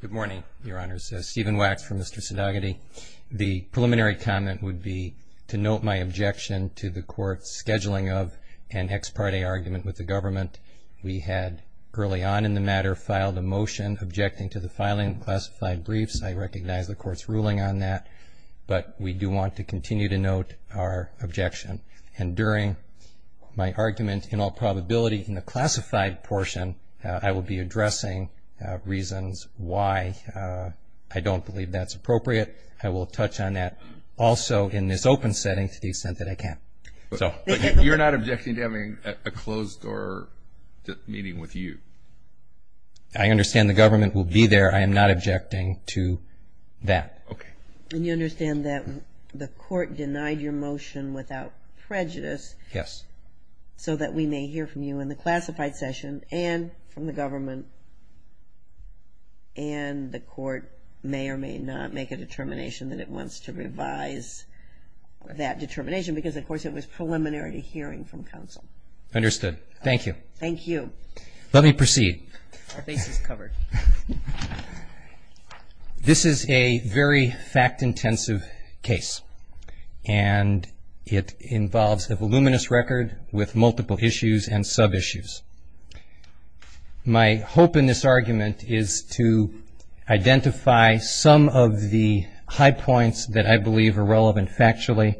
Good morning, Your Honors. Stephen Wax from Mr. Sedaghaty. The preliminary comment would be to note my objection to the court's scheduling of an ex parte argument with the government. We had, early on in the matter, filed a motion objecting to the filing of classified briefs. I recognize the court's ruling on that, but we do want to continue to note our objection. And during my argument, in all probability, in the classified portion, I will be addressing reasons why I don't believe that's appropriate. I will touch on that also in this open setting to the extent that I can. But you're not objecting to having a closed door meeting with you? I understand the government will be there. I am not objecting to that. Okay. And you understand that the court denied your motion without prejudice? Yes. So that we may hear from you in the classified session and from the government. And the court may or may not make a determination that it wants to revise that determination because, of course, it was preliminary to hearing from counsel. Understood. Thank you. Thank you. Let me proceed. Our face is covered. This is a very fact-intensive case. And it involves a voluminous record with multiple issues and sub-issues. My hope in this argument is to identify some of the high points that I believe are relevant factually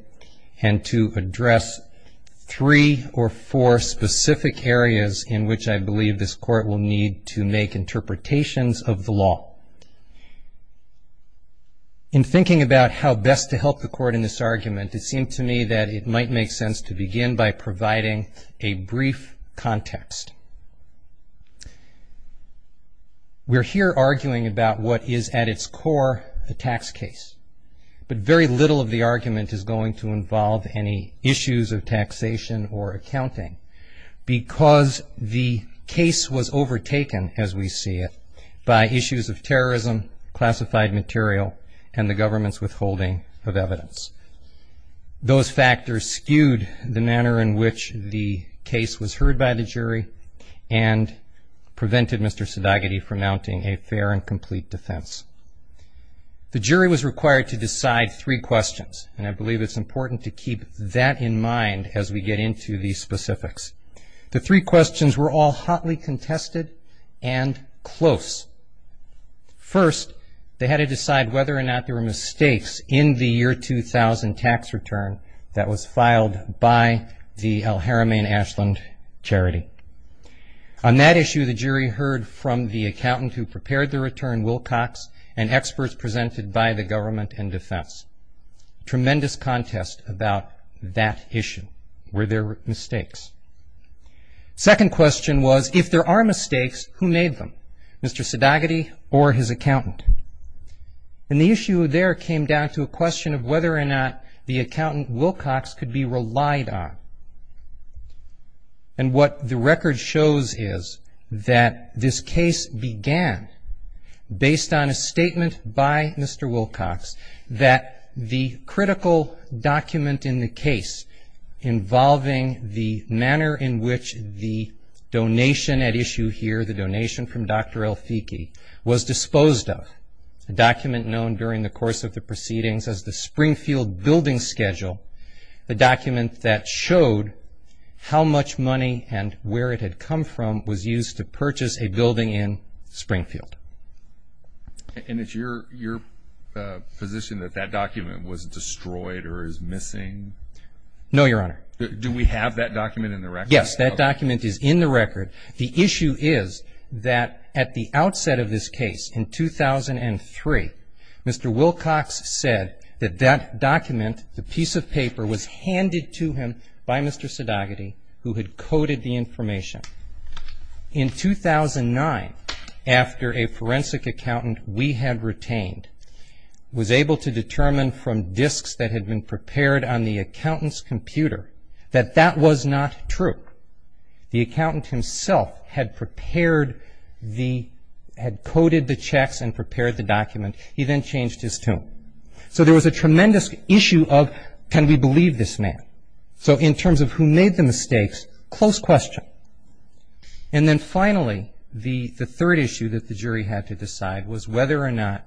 and to address three or four specific areas in which I believe this court will need to make interpretations of the law. In thinking about how best to help the court in this argument, it seemed to me that it might make sense to begin by providing a brief context. We're here arguing about what is at its core a tax case. But very little of the argument is going to involve any issues of taxation or accounting, because the case was overtaken, as we see it, by issues of terrorism, classified material, and the government's withholding of evidence. Those factors skewed the manner in which the case was heard by the jury and prevented Mr. Sadagaty from mounting a fair and complete defense. The jury was required to decide three questions, and I believe it's important to keep that in mind as we get into the specifics. The three questions were all hotly contested and close. First, they had to decide whether or not there were mistakes in the year 2000 tax return that was filed by the El Jarame and Ashland charity. On that issue, the jury heard from the accountant who prepared the return, Wilcox, and experts presented by the government and defense. Tremendous contest about that issue. Were there mistakes? Second question was, if there are mistakes, who made them, Mr. Sadagaty or his accountant? And the issue there came down to a question of whether or not the accountant, Wilcox, could be relied on. And what the record shows is that this case began based on a statement by Mr. Wilcox that the critical document in the case involving the manner in which the donation at issue here, the donation from Dr. El Fiki, was disposed of, a document known during the course of the proceedings as the Springfield Building Schedule, a document that showed how much money and where it had come from was used to purchase a building in Springfield. And it's your position that that document was destroyed or is missing? No, Your Honor. Do we have that document in the record? Yes, that document is in the record. The issue is that at the outset of this case, in 2003, Mr. Wilcox said that that document, the piece of paper, was handed to him by Mr. Sadagaty, who had coded the information. In 2009, after a forensic accountant we had retained was able to determine from disks that had been prepared on the accountant's computer that that was not true, the accountant himself had coded the checks and prepared the document. He then changed his tune. So there was a tremendous issue of, can we believe this man? So in terms of who made the mistakes, close question. And then finally, the third issue that the jury had to decide was whether or not,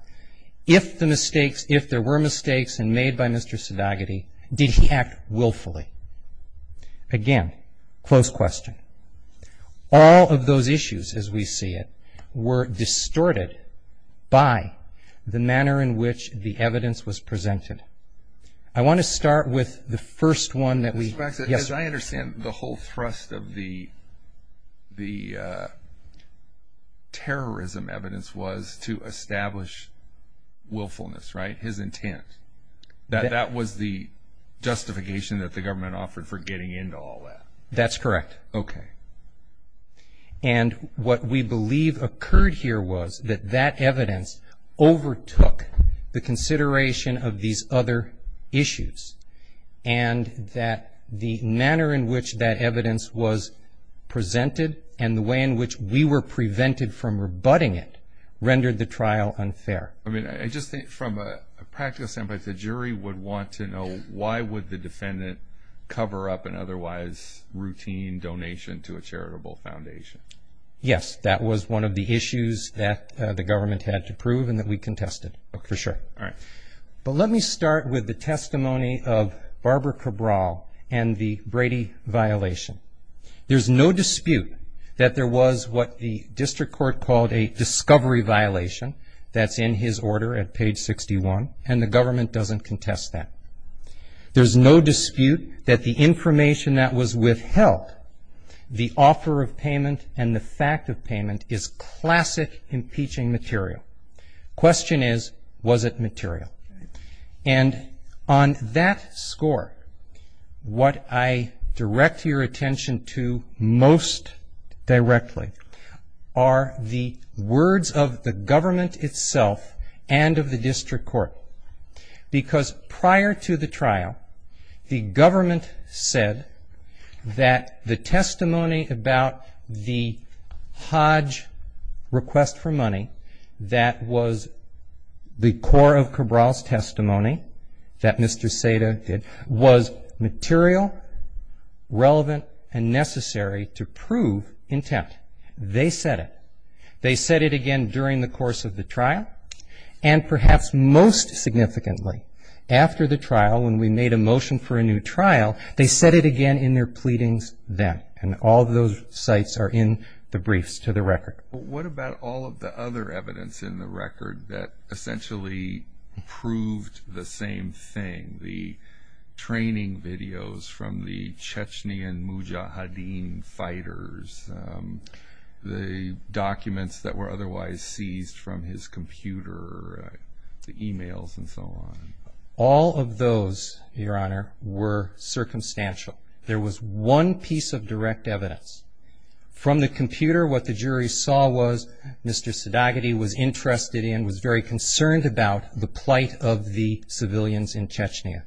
if the mistakes, if there were mistakes and made by Mr. Sadagaty, did he act willfully? Again, close question. All of those issues, as we see it, were distorted by the manner in which the evidence was presented. I want to start with the first one that we... Mr. Waxman, as I understand, the whole thrust of the terrorism evidence was to establish willfulness, right? His intent, that that was the justification that the government offered for getting into all that. That's correct. Okay. And what we believe occurred here was that that evidence overtook the consideration of these other issues, and that the manner in which that evidence was presented, and the way in which we were prevented from rebutting it, rendered the trial unfair. I mean, I just think from a practice standpoint, the jury would want to know why would the defendant cover up and otherwise make a mistake. And I'm just wondering if that was a routine donation to a charitable foundation. Yes, that was one of the issues that the government had to prove and that we contested, for sure. All right. But let me start with the testimony of Barbara Cabral and the Brady violation. There's no dispute that there was what the district court called a discovery violation, that's in his order at page 61, and the government doesn't contest that. There's no dispute that the information that was withheld, the offer of payment and the fact of payment, is classic impeaching material. Question is, was it material? And on that score, what I direct your attention to most directly are the words of the government itself and of the district court. Because prior to the trial, the government said that the testimony about the Hodge request for money, that was the core of Cabral's testimony, that Mr. Seda did, was material, relevant, and necessary to prove intent. They said it. And they said it significantly. After the trial, when we made a motion for a new trial, they said it again in their pleadings then, and all of those sites are in the briefs to the record. What about all of the other evidence in the record that essentially proved the same thing, the training videos from the Chechnyan Mujahideen fighters, the documents that were otherwise seized from his computer, the e-mails that he received? All of those, your Honor, were circumstantial. There was one piece of direct evidence. From the computer, what the jury saw was Mr. Sedagity was interested in, was very concerned about the plight of the civilians in Chechnya.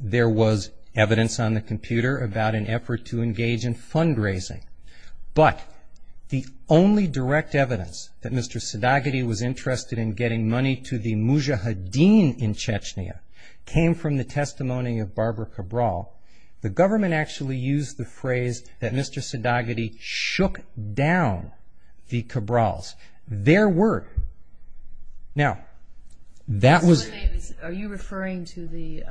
There was evidence on the computer about an effort to engage in fundraising. But the only direct evidence that Mr. Sedagity was interested in getting money to the Mujahideen fighters was the evidence that Mr. Sedagity had been in Chechnya, came from the testimony of Barbara Cabral. The government actually used the phrase that Mr. Sedagity shook down the Cabrals. There were, now, that was... Are you referring to the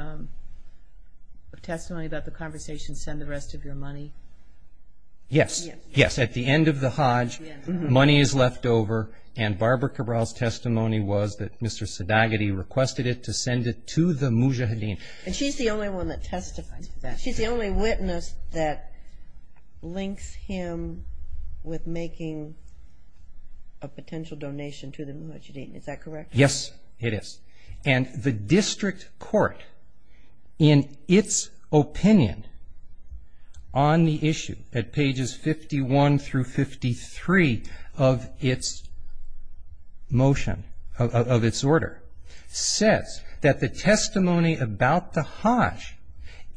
testimony about the conversation, send the rest of your money? Yes, yes, at the end of the Hajj, money is left over, and Barbara Cabral's testimony was that Mr. Sedagity requested the money to the Mujahideen fighters. He requested it to send it to the Mujahideen. And she's the only one that testifies to that. She's the only witness that links him with making a potential donation to the Mujahideen, is that correct? Yes, it is. And the district court, in its opinion, on the issue, at pages 51 through 53 of its motion, of its order, says that the testimony about the Hajj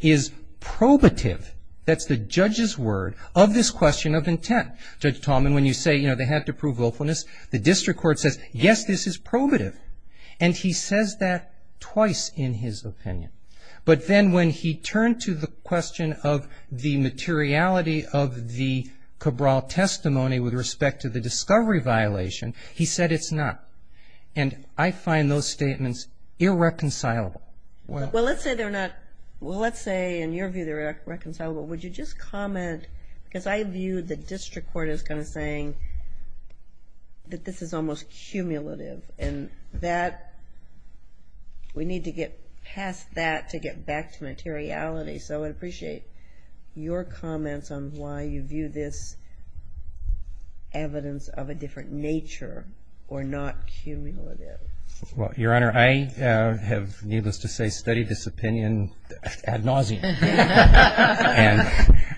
is probative. That's the judge's word of this question of intent. Judge Tallman, when you say, you know, they had to prove willfulness, the district court says, yes, this is probative. And he says that twice in his opinion. But then when he turned to the question of the materiality of the Cabral testimony with respect to the discovery violation, he said it's not. And I find those statements irreconcilable. Well, let's say they're not, well, let's say, in your view, they're reconcilable. Would you just comment, because I view the district court as kind of saying that this is almost cumulative. And that, we need to get past that to get back to materiality. So I'd appreciate your comments on why you view this evidence of a different nature, or not. Well, Your Honor, I have, needless to say, studied this opinion ad nauseum. And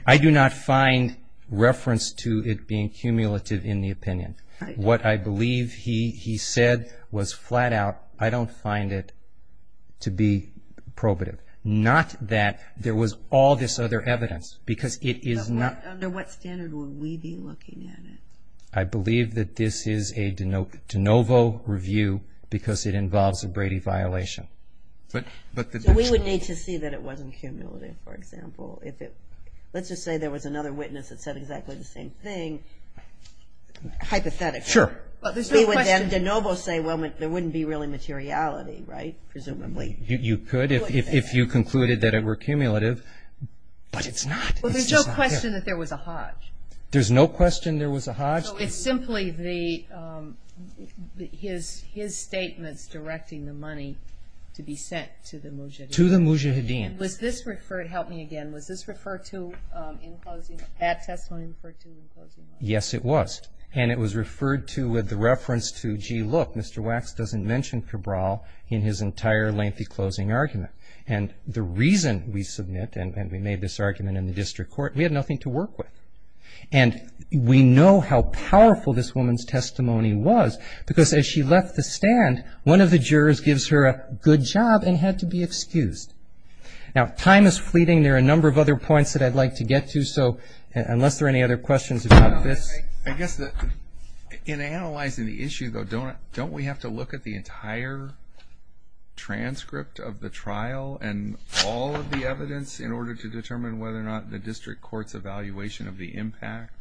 I do not find reference to it being cumulative in the opinion. What I believe he said was flat out, I don't find it to be probative. Not that there was all this other evidence, because it is not. Under what standard would we be looking at it? No review, because it involves a Brady violation. So we would need to see that it wasn't cumulative, for example. Let's just say there was another witness that said exactly the same thing, hypothetically. Sure. You could if you concluded that it were cumulative, but it's not. Well, there's no question that there was a hajj. There's no question there was a hajj. So it's simply the, his statements directing the money to be sent to the mujahideen. To the mujahideen. Was this referred, help me again, was this referred to in closing, that testimony referred to in closing? Look, Mr. Wax doesn't mention Cabral in his entire lengthy closing argument. And the reason we submit, and we made this argument in the district court, we had nothing to work with. And we know how powerful this woman's testimony was, because as she left the stand, one of the jurors gives her a good job and had to be excused. Now, time is fleeting, there are a number of other points that I'd like to get to, so unless there are any other questions about this. I guess in analyzing the issue, though, don't we have to look at the entire transcript of the trial and all of the evidence in order to determine whether or not the district court's evaluation of the impact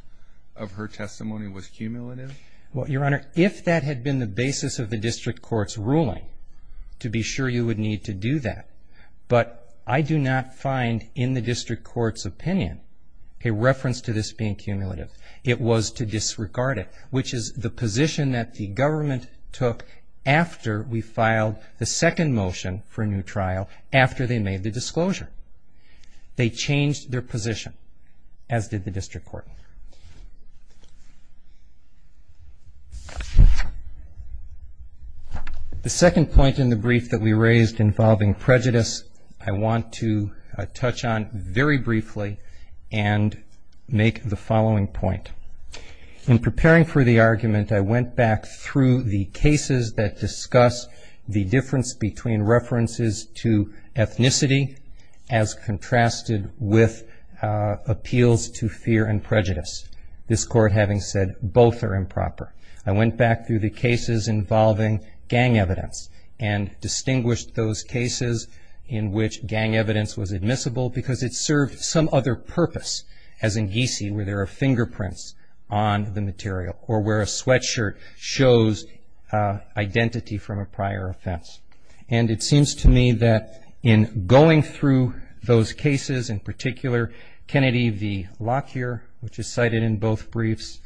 of her testimony was cumulative? Well, Your Honor, if that had been the basis of the district court's ruling, to be sure you would need to do that. But I do not find in the district court's opinion a reference to this being cumulative. It was to disregard it, which is the position that the government took after we filed the second motion for a new trial, after they made the disclosure. They changed their position, as did the district court. The second point in the brief that we raised involving prejudice I want to touch on very briefly and make the following point. In preparing for the argument, I went back through the cases that discuss the difference between references to ethnicity as contrasted with appeals to fear and prejudice, this court having said both are improper. I went back through the cases involving gang evidence and distinguished those cases in which gang evidence was admissible because it served some other purpose, as in geesee, where there are fingerprints on the material or where a sweatshirt shows identity from a prior offense. And it seems to me that in going through those cases, in particular Kennedy v. Lockyer, which is cited in both briefs,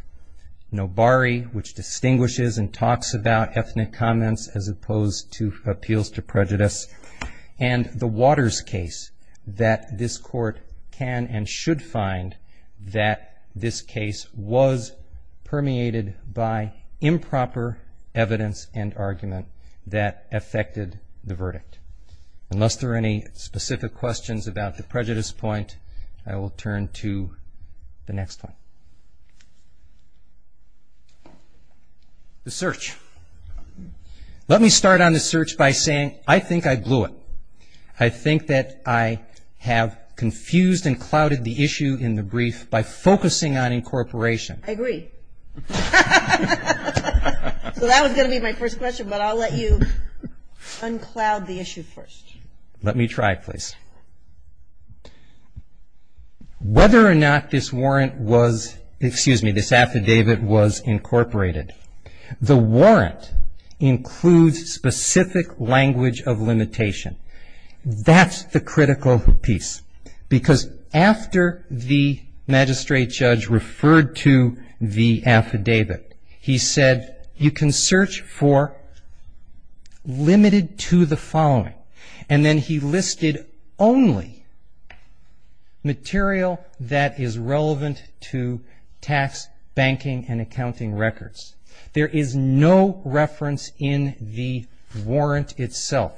Nobari, which distinguishes and talks about ethnic comments as opposed to appeals to prejudice, and the Waters case that this court can and should find that this case was permeated by improper evidence and argument that affected the verdict. Unless there are any specific questions about the prejudice point, I will turn to the next one. The search. Let me start on the search by saying I think I blew it. I think that I have confused and clouded the issue in the brief by focusing on incorporation. I agree. So that was going to be my first question, but I'll let you uncloud the issue first. Let me try, please. Whether or not this warrant was, excuse me, this affidavit was incorporated, the warrant includes specific language of limitation. That's the critical piece because after the magistrate judge referred to the affidavit, he said you can search for limited to the following. And then he listed only material that is relevant to tax, banking, and accounting records. There is no reference in the warrant itself,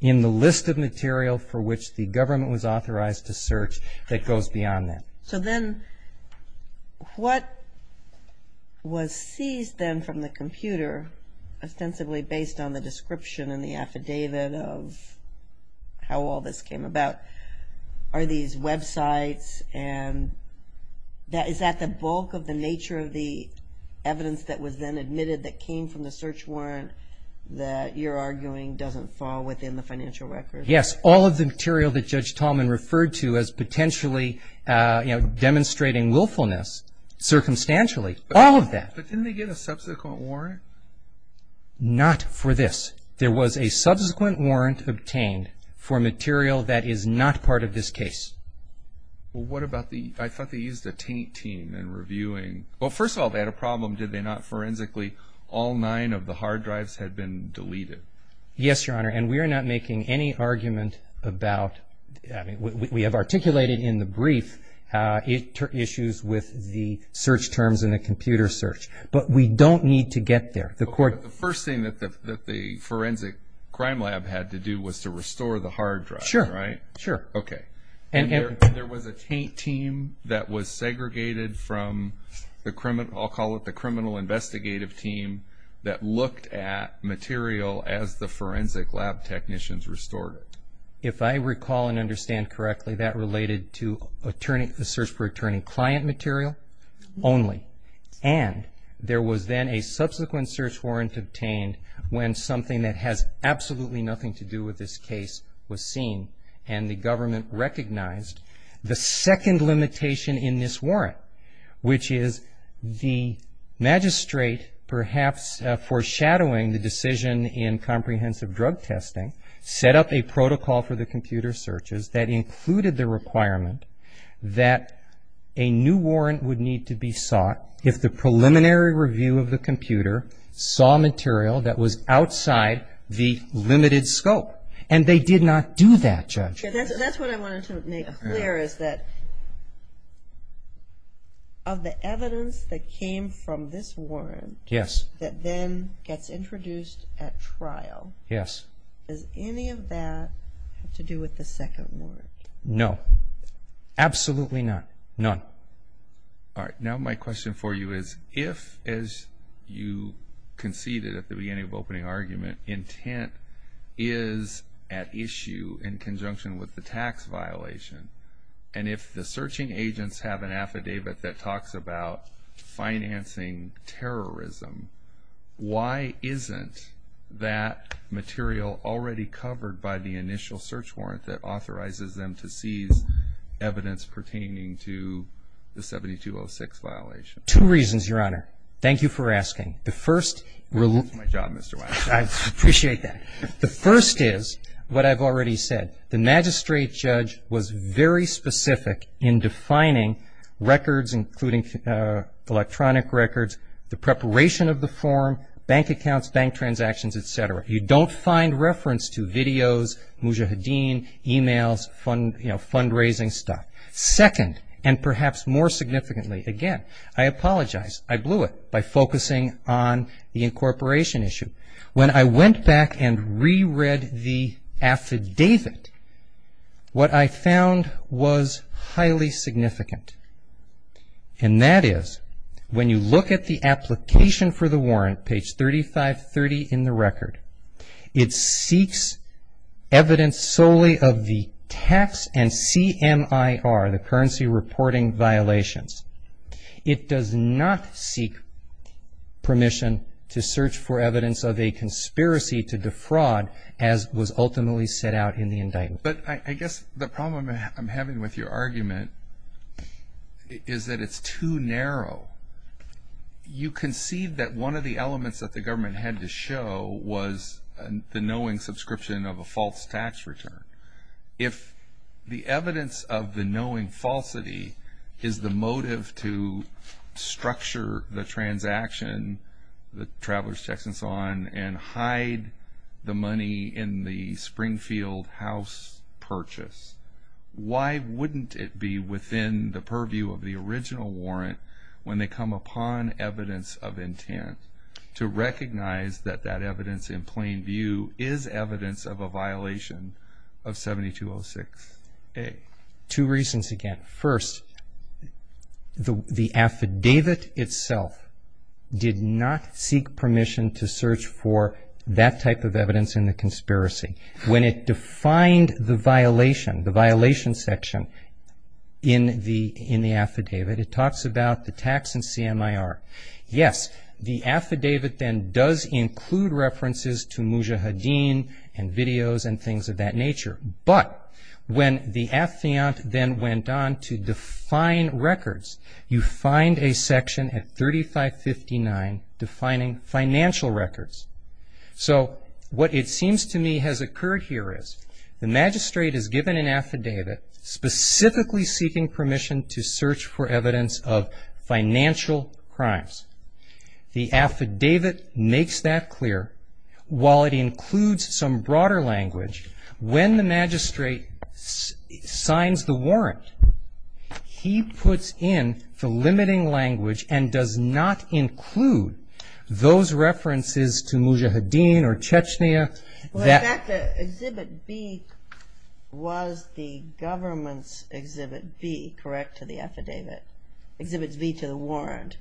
in the list of material for which the government was authorized to search that goes beyond that. So then what was seized then from the computer, ostensibly based on the description in the affidavit of the government, was the warrant. And I don't know how all this came about. Are these websites, and is that the bulk of the nature of the evidence that was then admitted that came from the search warrant that you're arguing doesn't fall within the financial record? Yes, all of the material that Judge Tallman referred to as potentially demonstrating willfulness, circumstantially, all of that. But didn't they get a subsequent warrant? Not for this. There was a subsequent warrant obtained for material that is not part of this case. Well, what about the, I thought they used a taint team in reviewing, well, first of all, they had a problem, did they not, forensically, all nine of the hard drives had been deleted? Yes, Your Honor, and we are not making any argument about, I mean, we have articulated in the brief issues with the search terms in the computer search. But we don't need to get there. The first thing that the forensic crime lab had to do was to restore the hard drive, right? Sure, sure. Okay, and there was a taint team that was segregated from the criminal, I'll call it the criminal investigative team that looked at material as the forensic lab technicians restored it? If I recall and understand correctly, that related to the search for attorney-client material only. And there was then a subsequent search warrant obtained when something that has absolutely nothing to do with this case was seen, and the government recognized. The second limitation in this warrant, which is the magistrate perhaps foreshadowing the decision in comprehensive drug testing, set up a protocol for the computer searches that included the requirement that a new warrant would need to be sought for the search for attorney-client material. If the preliminary review of the computer saw material that was outside the limited scope, and they did not do that, Judge. That's what I wanted to make clear is that of the evidence that came from this warrant that then gets introduced at trial, does any of that have to do with the second warrant? No, absolutely not, none. My question for you is if, as you conceded at the beginning of opening argument, intent is at issue in conjunction with the tax violation, and if the searching agents have an affidavit that talks about financing terrorism, why isn't that material already covered by the initial search warrant that authorizes them to seize evidence pertaining to the 7206 violation? Two reasons, Your Honor. Thank you for asking. I appreciate that. The first is what I've already said. The magistrate judge was very specific in defining records, including electronic records, the preparation of the form, bank accounts, bank transactions, et cetera. You don't find reference to videos, Mujahideen, e-mails, fundraising stuff. Second, and perhaps more significantly, again, I apologize, I blew it by focusing on the incorporation issue. When I went back and reread the affidavit, what I found was highly significant, and that is when you look at the application for the warrant, page 3530 in the record, it seeks evidence solely of the tax and CMIR, the currency reporting violations. It does not seek permission to search for evidence of a conspiracy to defraud, as was ultimately set out in the indictment. But I guess the problem I'm having with your argument is that it's too narrow. You concede that one of the elements that the government had to show was the knowing subscription of a false tax return. If the evidence of the knowing falsity is the motive to structure the transaction, the traveler's checks and so on, and hide the money in the Springfield house purchase, why wouldn't it be within the purview of the original warrant when they come upon evidence of intent to recognize that that evidence in plain view is evidence of a violation of 7206A? Two reasons, again. First, the affidavit itself did not seek permission to search for that type of evidence in the conspiracy. When it defined the violation, the violation section in the affidavit, it talks about the tax and CMIR. Yes, the affidavit then does include references to Mujahideen and videos and things of that nature. But when the affiant then went on to define records, you find a section at 3559 defining financial records. So what it seems to me has occurred here is the magistrate is given an affidavit specifically seeking permission to search for evidence of financial crimes. The affidavit makes that clear. While it includes some broader language, when the magistrate signs the warrant, he puts in the limiting language and does not include those references to Mujahideen. In fact, Exhibit B was the government's Exhibit B, correct, to the affidavit? Exhibit B to the warrant?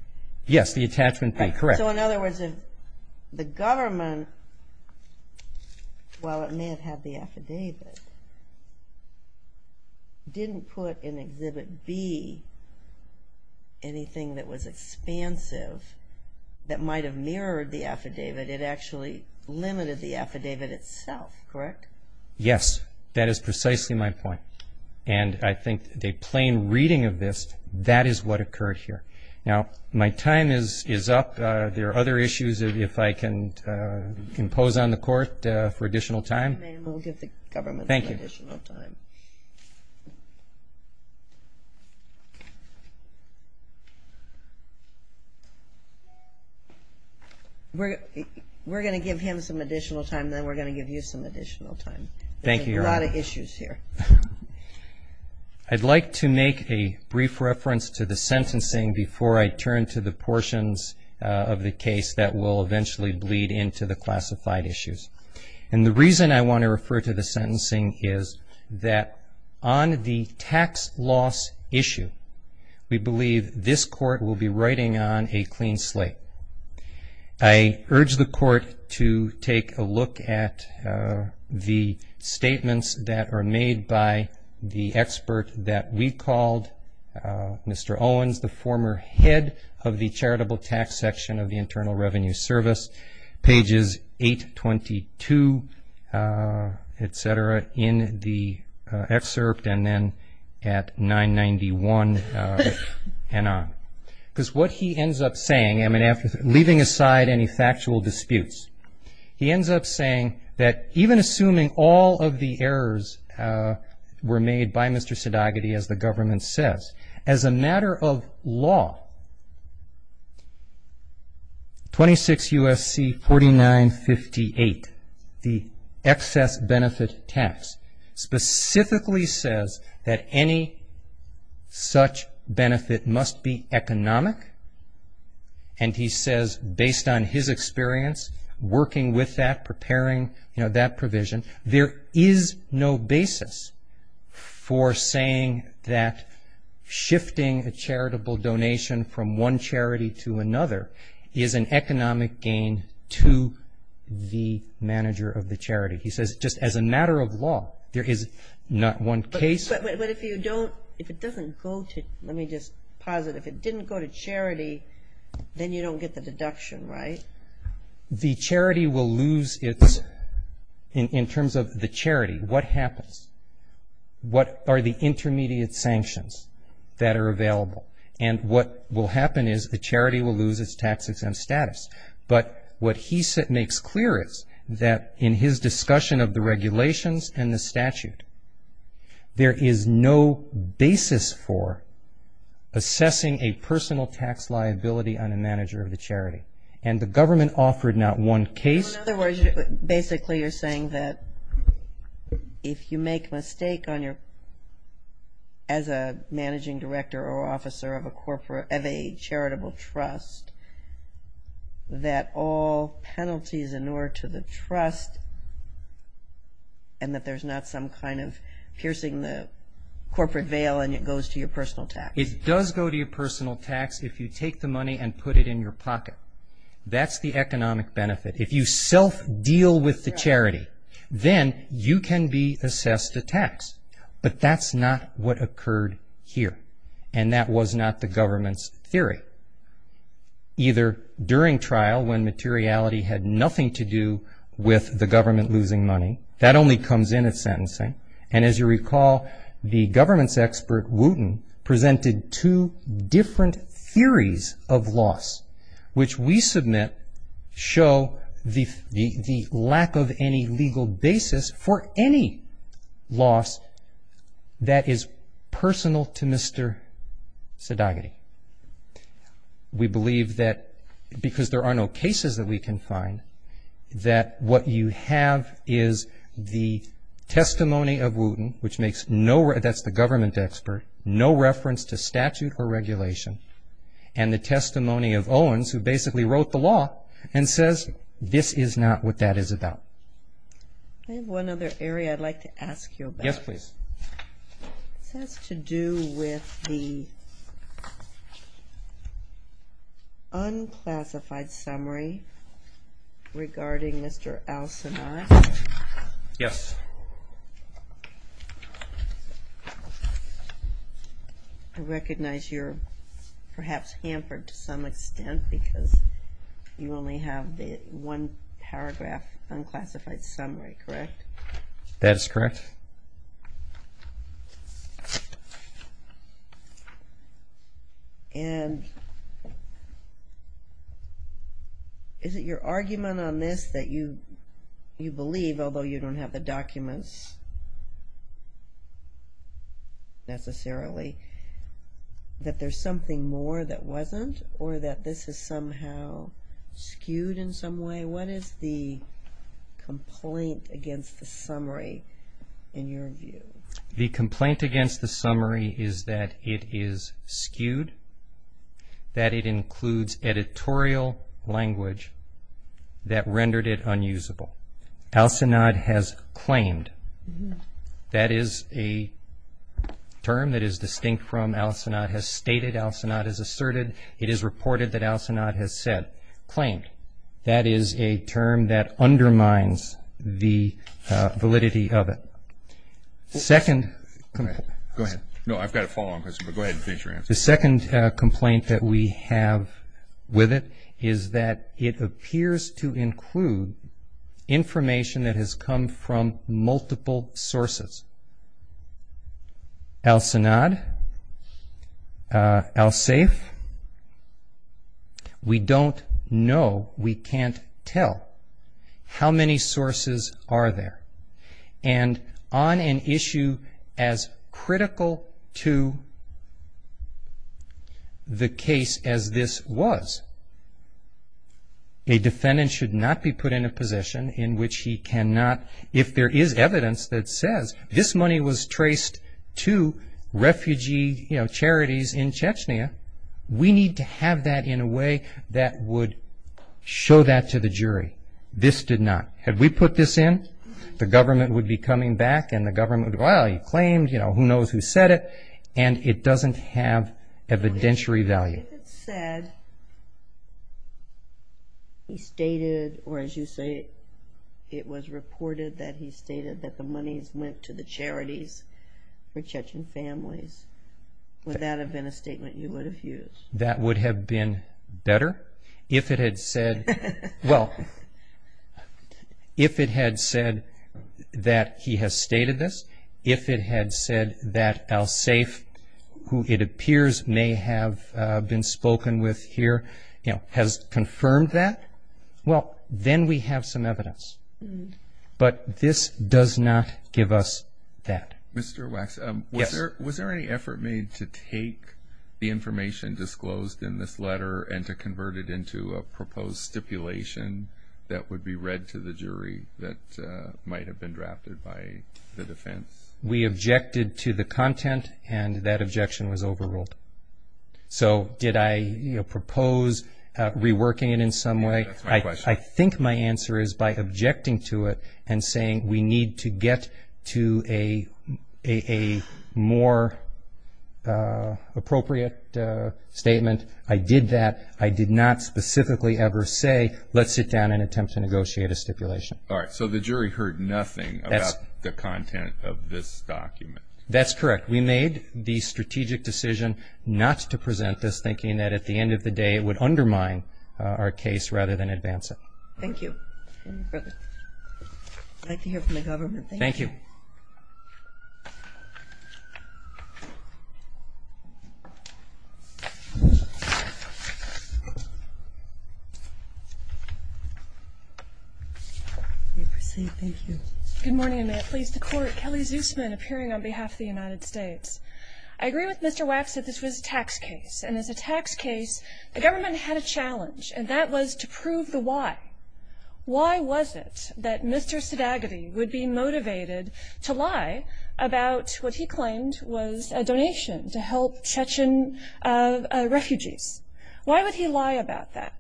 Yes, the attachment B, correct. So in other words, the government, while it may have had the affidavit, didn't put in Exhibit B anything that was expansive that might have mirrored the affidavit. It actually limited the affidavit itself, correct? Yes, that is precisely my point. And I think a plain reading of this, that is what occurred here. Now, my time is up. There are other issues, if I can impose on the Court for additional time. If we're going to give him some additional time, then we're going to give you some additional time. Thank you, Your Honor. There's a lot of issues here. I'd like to make a brief reference to the sentencing before I turn to the portions of the case that will eventually bleed into the classified issues. And the reason I want to refer to the sentencing is that on the tax loss issue, we believe this Court will be writing on a clean slate. And I'd like to take a look at the statements that are made by the expert that we called, Mr. Owens, the former head of the Charitable Tax Section of the Internal Revenue Service. Pages 822, et cetera, in the excerpt and then at 991 and on. Because what he ends up saying, I mean, leaving aside any factual disputes, he ends up saying that even assuming all of the errors were made by Mr. Sedogaty, as the government says, as a matter of law, 26 U.S.C. 4958, the excess benefit tax, specifically says that any such benefit must be economic. And he says, based on his experience working with that, preparing that provision, there is no basis for saying that shifting a charitable donation from one charity to another is an economic gain to the manager of the charity. He says, just as a matter of law, there is not one case. But if you don't, if it doesn't go to, let me just pause it, if it didn't go to charity, then you don't get the deduction, right? The charity will lose its, in terms of the charity, what happens? What are the intermediate sanctions that are available? And what will happen is the charity will lose its tax-exempt status. But what he makes clear is that in his discussion of the regulations and the statute, there is no basis for assessing a personal tax liability on a manager of the charity. And the government offered not one case. In other words, basically you're saying that if you make a mistake on your, as a managing director or officer of a corporate, of a charitable trust, that all penalties in order to the trust, and that there's not some kind of piercing the corporate veil and it goes to your personal tax. It does go to your personal tax if you take the money and put it in your pocket. That's the economic benefit. If you self-deal with the charity, then you can be assessed a tax. But that's not what occurred here. And that was not the government's theory. Either during trial when materiality had nothing to do with the government losing money. That only comes in at sentencing. And as you recall, the government's expert, Wooten, presented two different theories of loss, which we submit show the lack of any legal basis for any loss that is personal to Mr. Sadagaty. We believe that because there are no cases that we can find, that what you have is the testimony of Wooten, which makes no, that's the government expert, no reference to statute or regulation, and the testimony of Owens, who basically wrote the law, and says this is not what that is about. I have one other area I'd like to ask you about. Unclassified summary regarding Mr. Alsinat. Yes. I recognize you're perhaps hampered to some extent because you only have the one paragraph unclassified summary, correct? That is correct. And is it your argument on this that you believe, although you don't have the documents necessarily, that there's something more that wasn't, or that this is somehow skewed in some way? What is the complaint against the summary in your view? The complaint against the summary is that it is skewed, that it includes editorial language that rendered it unusable. Alsinat has claimed, that is a term that is distinct from Alsinat has stated, Alsinat has asserted, it is reported that Alsinat has claimed. That is a term that undermines the validity of it. The second complaint that we have with it is that it appears to include information that has come from multiple sources. Alsinat, Alsaif, we don't know, Alsinat, Alsaif, Alsaif, Alsaif, Alsaif, Alsaif, Alsaif, Alsaif, Alsaif. We don't know, we can't tell how many sources are there. And on an issue as critical to the case as this was, a defendant should not be put in a position in which he cannot, if there is evidence that says this money was traced to refugee, you know, charities in Chechnya, we need to have that in a way that would show that to the jury, this did not. Had we put this in, the government would be coming back and the government would go, well, you claimed, who knows who said it, and it doesn't have evidentiary value. If it said, he stated, or as you say, it was reported that he stated that the money went to the charities for Chechen families, would that have been a statement you would have used? That would have been better if it had said, well, if it had said that he has stated this, if it had said that Alsaif, who it appears may have been spoken with here, you know, has confirmed that, well, then we have some evidence. But this does not give us that. Mr. Wax, was there any effort made to take the information disclosed in this letter and to convert it into a proposed stipulation that would be read to the jury that might have been drafted by the defense? We objected to the content and that objection was overruled. So did I propose reworking it in some way? I think my answer is by objecting to it and saying we need to get to a more appropriate statement, I did that. I did not specifically ever say, let's sit down and attempt to negotiate a stipulation. All right, so the jury heard nothing about the content of this document. That's correct. We made the strategic decision not to present this, thinking that at the end of the day it would undermine our case rather than advance it. Thank you. I'd like to hear from the government. Good morning, and may it please the Court. Kelly Zusman, appearing on behalf of the United States. Why was it that Mr. Sadagaty would be motivated to lie about what he claimed was a donation to help Chechen refugees? Why would he lie about that?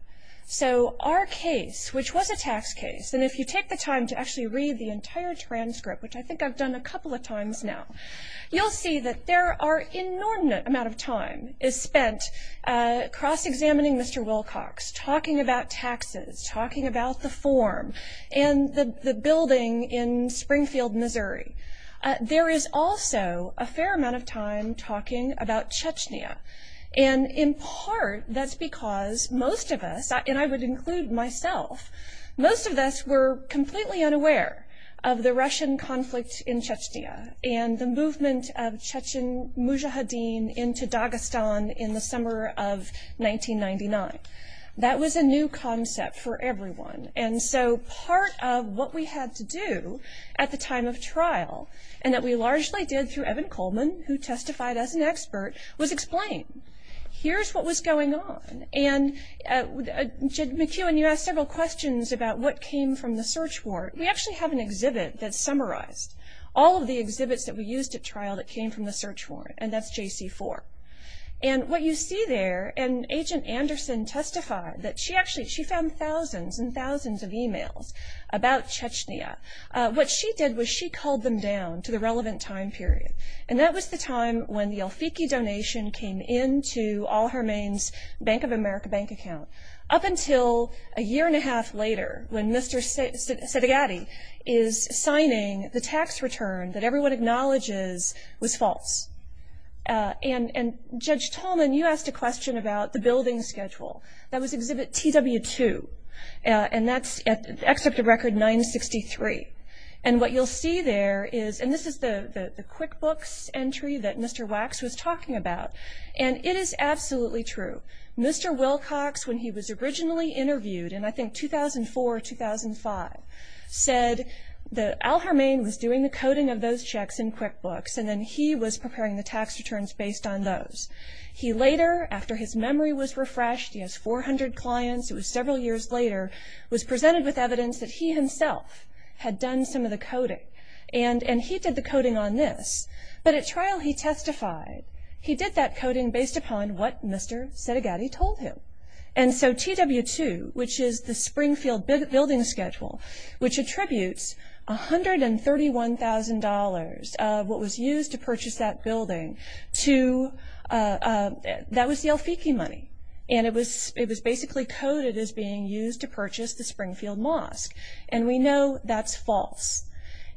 So our case, which was a tax case, and if you take the time to actually read the entire transcript, which I think I've done a couple of times now, you'll see that there are an enormous amount of time is spent cross-examining Mr. Wilcox, talking about taxes, talking about the form, and the building in Springfield, Missouri. There is also a fair amount of time talking about Chechnya, and in part that's because most of us, and I would include myself, most of us were completely unaware of the Russian conflict in Chechnya and the movement of Chechen mujahideen. That was a new concept for everyone. And so part of what we had to do at the time of trial, and that we largely did through Evan Coleman, who testified as an expert, was explain. Here's what was going on, and McEwen, you asked several questions about what came from the search warrant. We actually have an exhibit that summarized all of the exhibits that we used at trial that came from the search warrant. And that's JC4. And what you see there, and Agent Anderson testified that she actually, she found thousands and thousands of emails about Chechnya. What she did was she culled them down to the relevant time period, and that was the time when the El Fiki donation came in to All Her Mane's Bank of America bank account. Up until a year and a half later, when Mr. Sedigatti is signing the tax return that everyone acknowledges was false. And Judge Tolman, you asked a question about the building schedule. That was Exhibit TW2, and that's Excerpt of Record 963. And what you'll see there is, and this is the QuickBooks entry that Mr. Wax was talking about, and it is absolutely true. Mr. Wilcox, when he was originally interviewed in, I think, 2004 or 2005, said that All Her Mane was doing the coding of those checks in QuickBooks, and then he was preparing the tax returns based on those. He later, after his memory was refreshed, he has 400 clients, it was several years later, was presented with evidence that he himself had done some of the coding. And he did the coding on this, but at trial he testified he did that coding based upon what Mr. Sedigatti told him. And so TW2, which is the Springfield building schedule, which attributes $131,000 of what was used for the building, that was the El Fiki money, and it was basically coded as being used to purchase the Springfield Mosque. And we know that's false.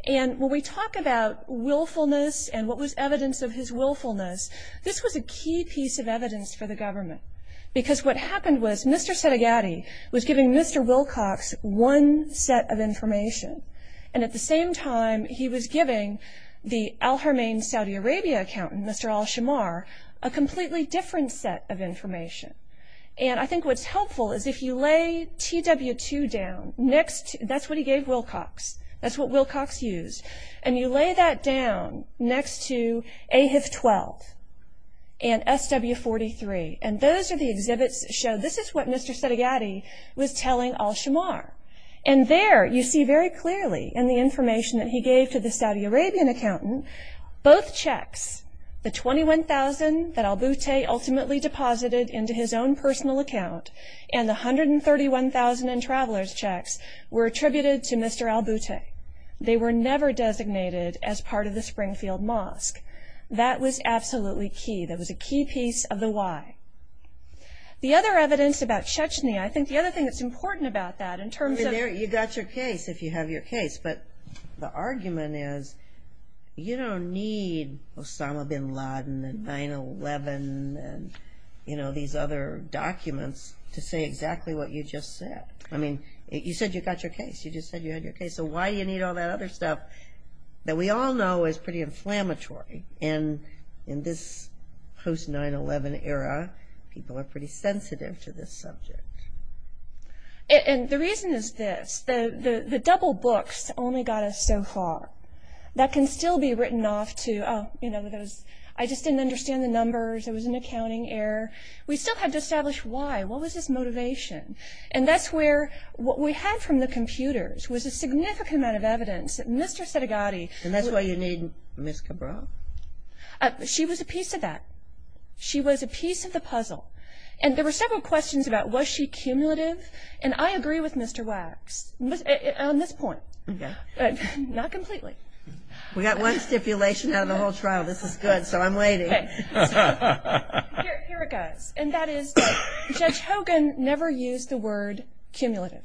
And when we talk about willfulness and what was evidence of his willfulness, this was a key piece of evidence for the government. Because what happened was Mr. Sedigatti was giving Mr. Wilcox one set of information, and at the same time he was giving the All Her Mane Saudi Arabia accountant, Mr. Al-Shemar, a completely different set of information. And I think what's helpful is if you lay TW2 down, that's what he gave Wilcox, that's what Wilcox used, and you lay that down next to AHIF-12 and SW-43, and those are the exhibits that show this is what Mr. Sedigatti was telling Al-Shemar. And there you see very clearly in the information that he gave to the Saudi Arabian accountant, both checks, the $21,000 that Al-Buteh ultimately deposited into his own personal account, and the $131,000 in traveler's checks were attributed to Mr. Al-Buteh. They were never designated as part of the Springfield Mosque. That was absolutely key, that was a key piece of the why. The other evidence about Chechnya, I think the other thing that's important about that in terms of... You've got your case if you have your case, but the argument is you don't need Osama bin Laden and 9-11 and these other documents to say exactly what you just said. I mean, you said you got your case, you just said you had your case, so why do you need all that other stuff that we all know is pretty inflammatory in this post-9-11 era? People are pretty sensitive to this subject. And the reason is this, the double books only got us so far. That can still be written off to, oh, I just didn't understand the numbers, there was an accounting error. We still had to establish why, what was his motivation? And that's where what we had from the computers was a significant amount of evidence that Mr. Sedigatti... And there were several questions about was she cumulative, and I agree with Mr. Wax on this point, but not completely. We got one stipulation out of the whole trial, this is good, so I'm waiting. Here it goes, and that is Judge Hogan never used the word cumulative.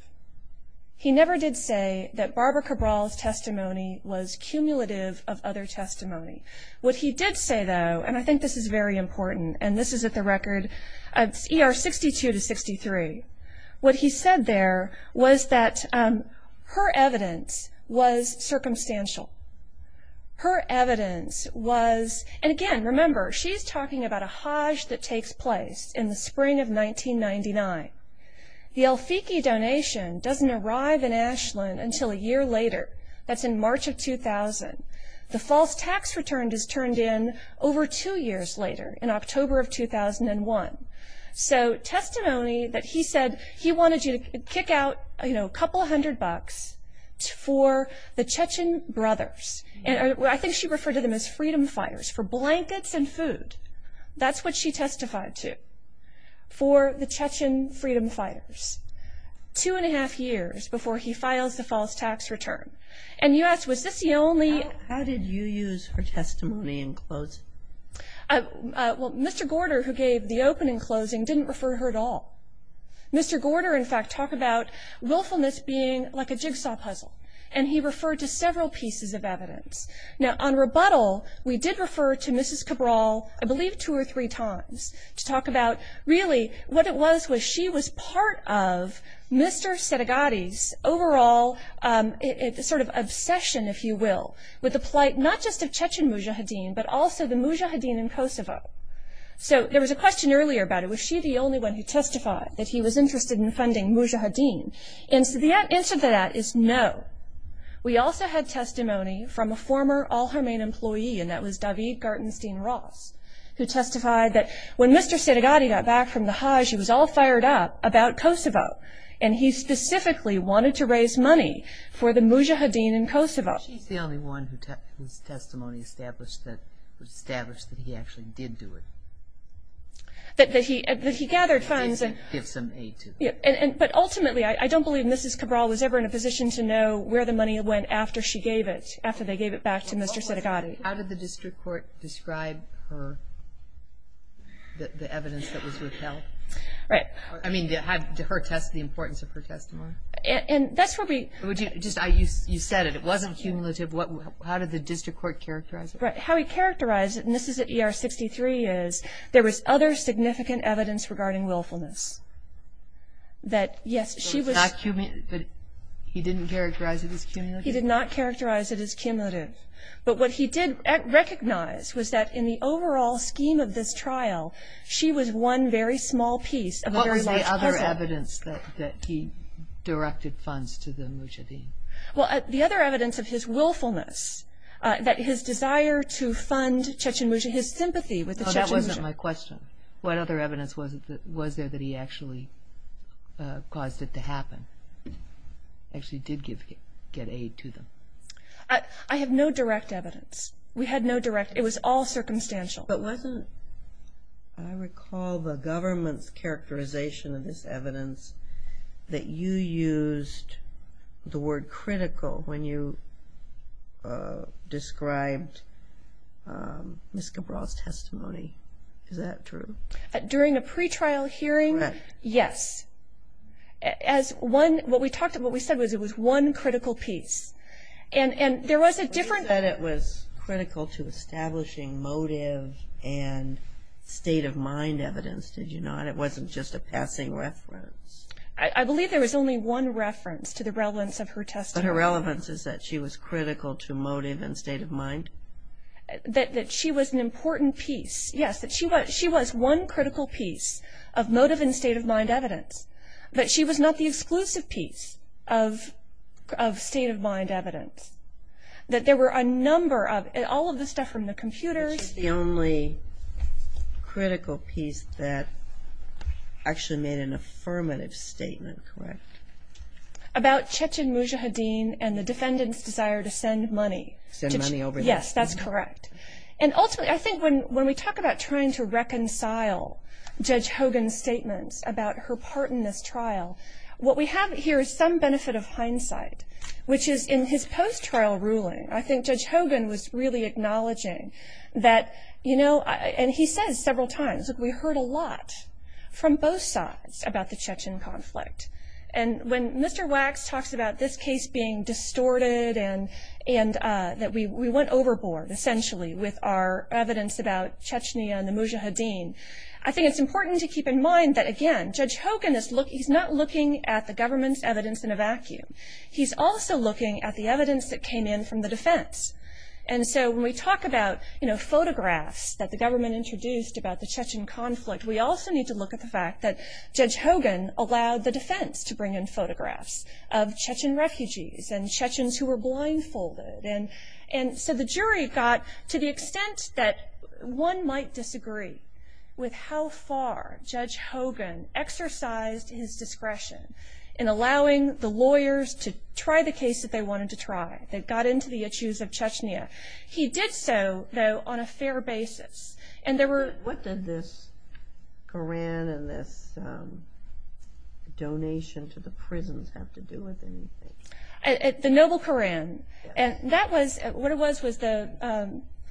He never did say that Barbara Cabral's testimony was cumulative of other testimony. What he did say, though, and I think this is very important, and this is at the record, ER 62 to 63. What he said there was that her evidence was circumstantial. Her evidence was, and again, remember, she's talking about a hajj that takes place in the spring of 1999. The El Fiki donation doesn't arrive in Ashland until a year later, that's in March of 2000. The false tax return is turned in over two years later, in October of 2001. So testimony that he said he wanted you to kick out a couple hundred bucks for the Chechen brothers, and I think she referred to them as freedom fighters, for blankets and food. That's what she testified to, for the Chechen freedom fighters. Two and a half years before he files the false tax return, and you ask, was this the only How did you use her testimony in closing? Well, Mr. Gorder, who gave the opening closing, didn't refer to her at all. Mr. Gorder, in fact, talked about willfulness being like a jigsaw puzzle, and he referred to several pieces of evidence. Now, on rebuttal, we did refer to Mrs. Cabral, I believe two or three times, to talk about, really, what it was was she was part of Mr. Sedegady's overall sort of obsession, if you will, with the plight, not just of Chechen Mujahideen, but also the Mujahideen in Kosovo. So there was a question earlier about it, was she the only one who testified that he was interested in funding Mujahideen? And the answer to that is no. We also had testimony from a former Al-Harmain employee, and that was David Gartenstein-Ross, who testified that when Mr. Sedegady got back from the Hajj, he was all fired up about Kosovo, and he specifically wanted to raise money for the Mujahideen in Kosovo. Was she the only one whose testimony established that he actually did do it? That he gathered funds and... Where the money went after she gave it, after they gave it back to Mr. Sedegady. How did the district court describe the evidence that was withheld? I mean, did her test the importance of her testimony? You said it, it wasn't cumulative. How did the district court characterize it? How we characterized it, and this is at ER 63, is there was other significant evidence regarding willfulness. That, yes, she was... He didn't characterize it as cumulative? He did not characterize it as cumulative. But what he did recognize was that in the overall scheme of this trial, she was one very small piece of a very large puzzle. What was the other evidence that he directed funds to the Mujahideen? Well, the other evidence of his willfulness, that his desire to fund Chechen Mujahideen, his sympathy with the Chechen Mujahideen. That wasn't my question. What other evidence was there that he actually caused it to happen? Actually did get aid to them? I have no direct evidence. We had no direct... It was all circumstantial. But wasn't, I recall the government's characterization of this evidence, that you used the word critical when you described Ms. Cabral's testimony. Is that true? During a pretrial hearing, yes. What we said was it was one critical piece. And there was a different... You said it was critical to establishing motive and state of mind evidence, did you not? It wasn't just a passing reference. I believe there was only one reference to the relevance of her testimony. But her relevance is that she was critical to motive and state of mind? That she was an important piece, yes. She was one critical piece of motive and state of mind evidence. But she was not the exclusive piece of state of mind evidence. That there were a number of... All of the stuff from the computers... That was the only critical piece that actually made an affirmative statement, correct? About Chechin Mujahideen and the defendant's desire to send money. Send money over there? Yes, that's correct. And ultimately, I think when we talk about trying to reconcile Judge Hogan's statements about her part in this trial, what we have here is some benefit of hindsight, which is in his post-trial ruling, I think Judge Hogan was really acknowledging that... And he says several times, look, we heard a lot from both sides about the Chechin conflict. And when Mr. Wax talks about this case being distorted and that we went overboard, essentially, with our evidence about Chechnya and the Mujahideen, I think it's important to keep in mind that, again, Judge Hogan is not looking at the government's evidence in a vacuum. He's also looking at the evidence that came in from the defense. And so when we talk about photographs that the government introduced about the Chechin conflict, we also need to look at the fact that Judge Hogan allowed the defense to bring in photographs of Chechin refugees and Chechins who were blindfolded. And so the jury got to the extent that one might disagree with how far Judge Hogan exercised his discretion in allowing the lawyers to try the case that they wanted to try, that got into the issues of Chechnya. He did so, though, on a fair basis. And there were... What did this Koran and this donation to the prisons have to do with anything? The noble Koran. I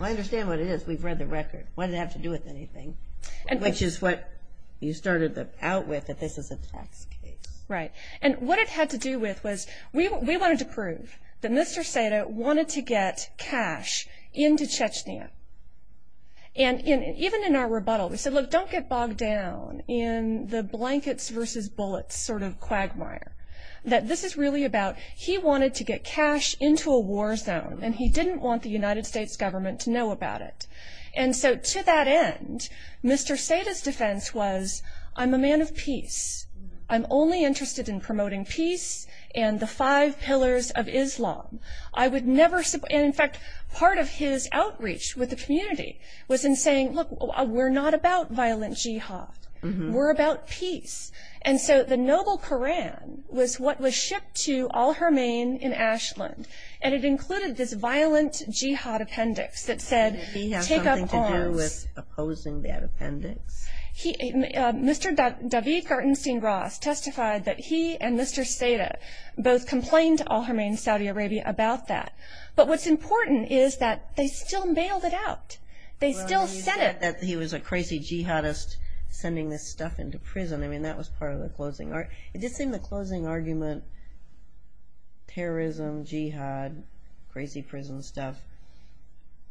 understand what it is. We've read the record. What did it have to do with anything? Which is what you started out with, that this is a tax case. Right. And what it had to do with was we wanted to prove that Mr. Sata wanted to get cash into Chechnya. And even in our rebuttal, we said, look, don't get bogged down in the blankets versus bullets sort of quagmire. That this is really about he wanted to get cash into a war zone, and he didn't want the United States government to know about it. And so to that end, Mr. Sata's defense was, I'm a man of peace. I'm only interested in promoting peace and the five pillars of Islam. And in fact, part of his outreach with the community was in saying, look, we're not about violent jihad. We're about peace. And so the noble Koran was what was shipped to al-Hermayn in Ashland. And it included this violent jihad appendix that said, take up arms. Did he have something to do with opposing that appendix? Mr. David Gartenstein-Gross testified that he and Mr. Sata both complained to al-Hermayn in Saudi Arabia about that. But what's important is that they still mailed it out. They still said it. Well, he said that he was a crazy jihadist sending this stuff into prison. I mean, that was part of the closing argument. It did seem the closing argument, terrorism, jihad, crazy prison stuff,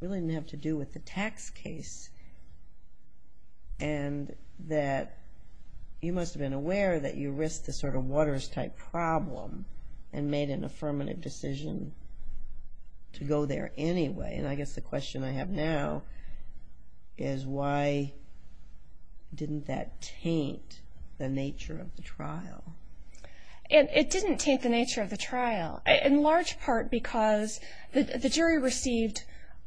really didn't have to do with the tax case. And that you must have been aware that you risked the sort of Waters-type problem and made an affirmative decision to go there anyway. And I guess the question I have now is why didn't that taint the nature of the trial? It didn't taint the nature of the trial, in large part because the jury received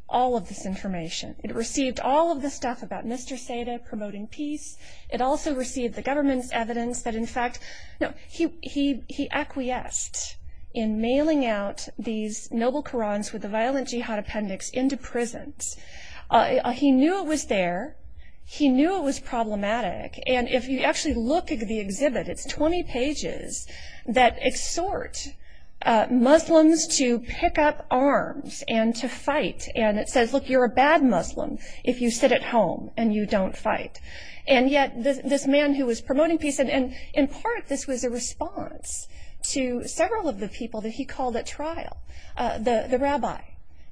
all of this information. It received all of the stuff about Mr. Sata promoting peace. It also received the government's evidence that, in fact, he acquiesced in mailing out these noble Korans with the violent jihad appendix into prisons. He knew it was there. He knew it was problematic. And if you actually look at the exhibit, it's 20 pages that exhort Muslims to pick up arms and to fight. And it says, look, you're a bad Muslim if you sit at home and you don't fight. And yet this man who was promoting peace, and in part this was a response to several of the people that he called at trial, the rabbi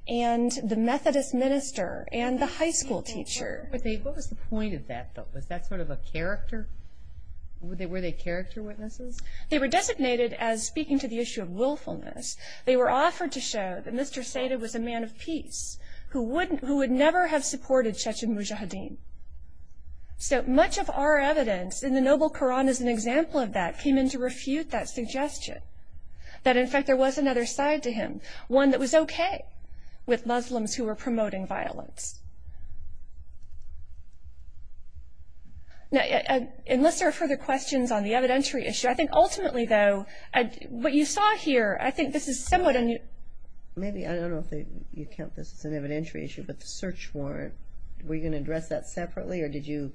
and the Methodist minister and the high school teacher. What was the point of that, though? Was that sort of a character? Were they character witnesses? They were designated as speaking to the issue of willfulness. They were offered to show that Mr. Sata was a man of peace who would never have supported Shechem Mujahideen. So much of our evidence in the noble Koran as an example of that came in to refute that suggestion, that, in fact, there was another side to him, one that was okay with Muslims who were promoting violence. Now, unless there are further questions on the evidentiary issue, I think ultimately, though, what you saw here, I think this is somewhat unusual. Maybe, I don't know if you count this as an evidentiary issue, but the search warrant, were you going to address that separately, or was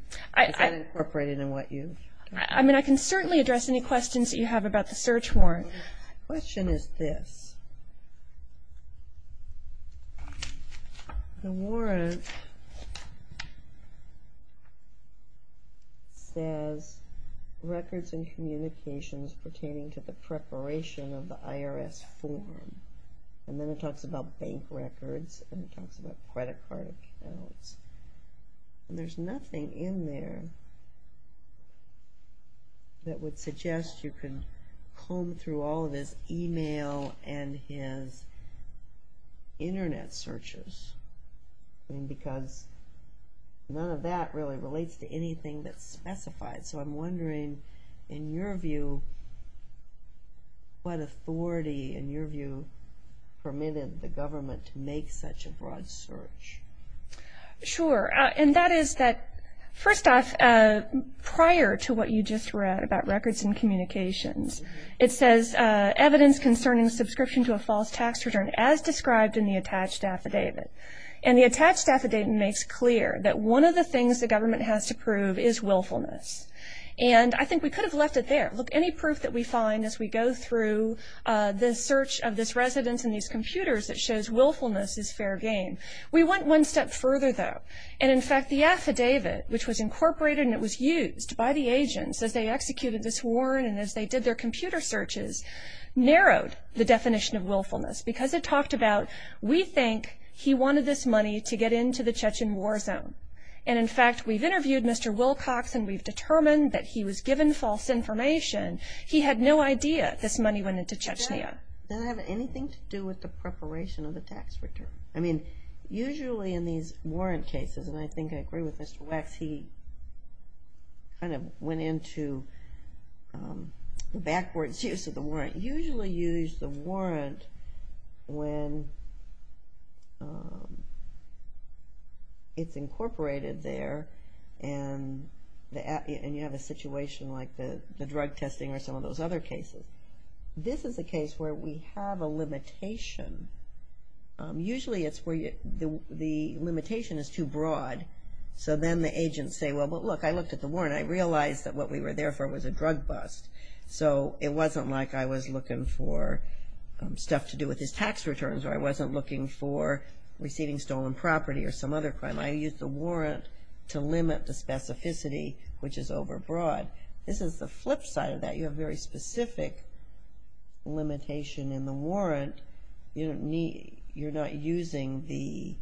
that incorporated in what you? I mean, I can certainly address any questions that you have about the search warrant. The question is this. The warrant says, Records and Communications Pertaining to the Preparation of the IRS Form. And then it talks about bank records, and it talks about credit card accounts. There's nothing in there that would suggest you can comb through all of his email and his internet searches, because none of that really relates to anything that's specified. So I'm wondering, in your view, what authority, in your view, permitted the government to make such a broad search? Sure. And that is that, first off, prior to what you just read about records and communications, it says, Evidence Concerning Subscription to a False Tax Return, as Described in the Attached Affidavit. And the attached affidavit makes clear that one of the things the government has to prove is willfulness. And I think we could have left it there. Look, any proof that we find as we go through the search of this residence and these computers that shows willfulness is fair game. We went one step further, though. And, in fact, the affidavit, which was incorporated and it was used by the agents as they executed this warrant and as they did their computer searches, narrowed the definition of willfulness because it talked about, We think he wanted this money to get into the Chechen war zone. And, in fact, we've interviewed Mr. Wilcox, and we've determined that he was given false information. He had no idea this money went into Chechnya. Does that have anything to do with the preparation of the tax return? I mean, usually in these warrant cases, and I think I agree with Mr. Wex, he kind of went into backwards use of the warrant. You can't usually use the warrant when it's incorporated there and you have a situation like the drug testing or some of those other cases. This is a case where we have a limitation. Usually it's where the limitation is too broad. So then the agents say, Well, look, I looked at the warrant. I realized that what we were there for was a drug bust. So it wasn't like I was looking for stuff to do with his tax returns or I wasn't looking for receiving stolen property or some other crime. I used the warrant to limit the specificity, which is overbroad. This is the flip side of that. You have very specific limitation in the warrant. You're not using the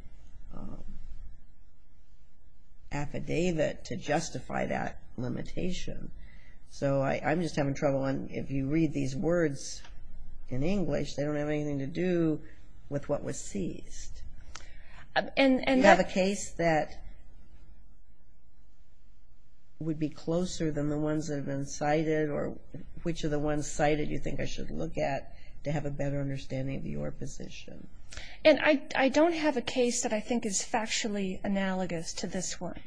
affidavit to justify that limitation. So I'm just having trouble, and if you read these words in English, they don't have anything to do with what was seized. Do you have a case that would be closer than the ones that have been cited or which of the ones cited do you think I should look at to have a better understanding of your position? And I don't have a case that I think is factually analogous to this one.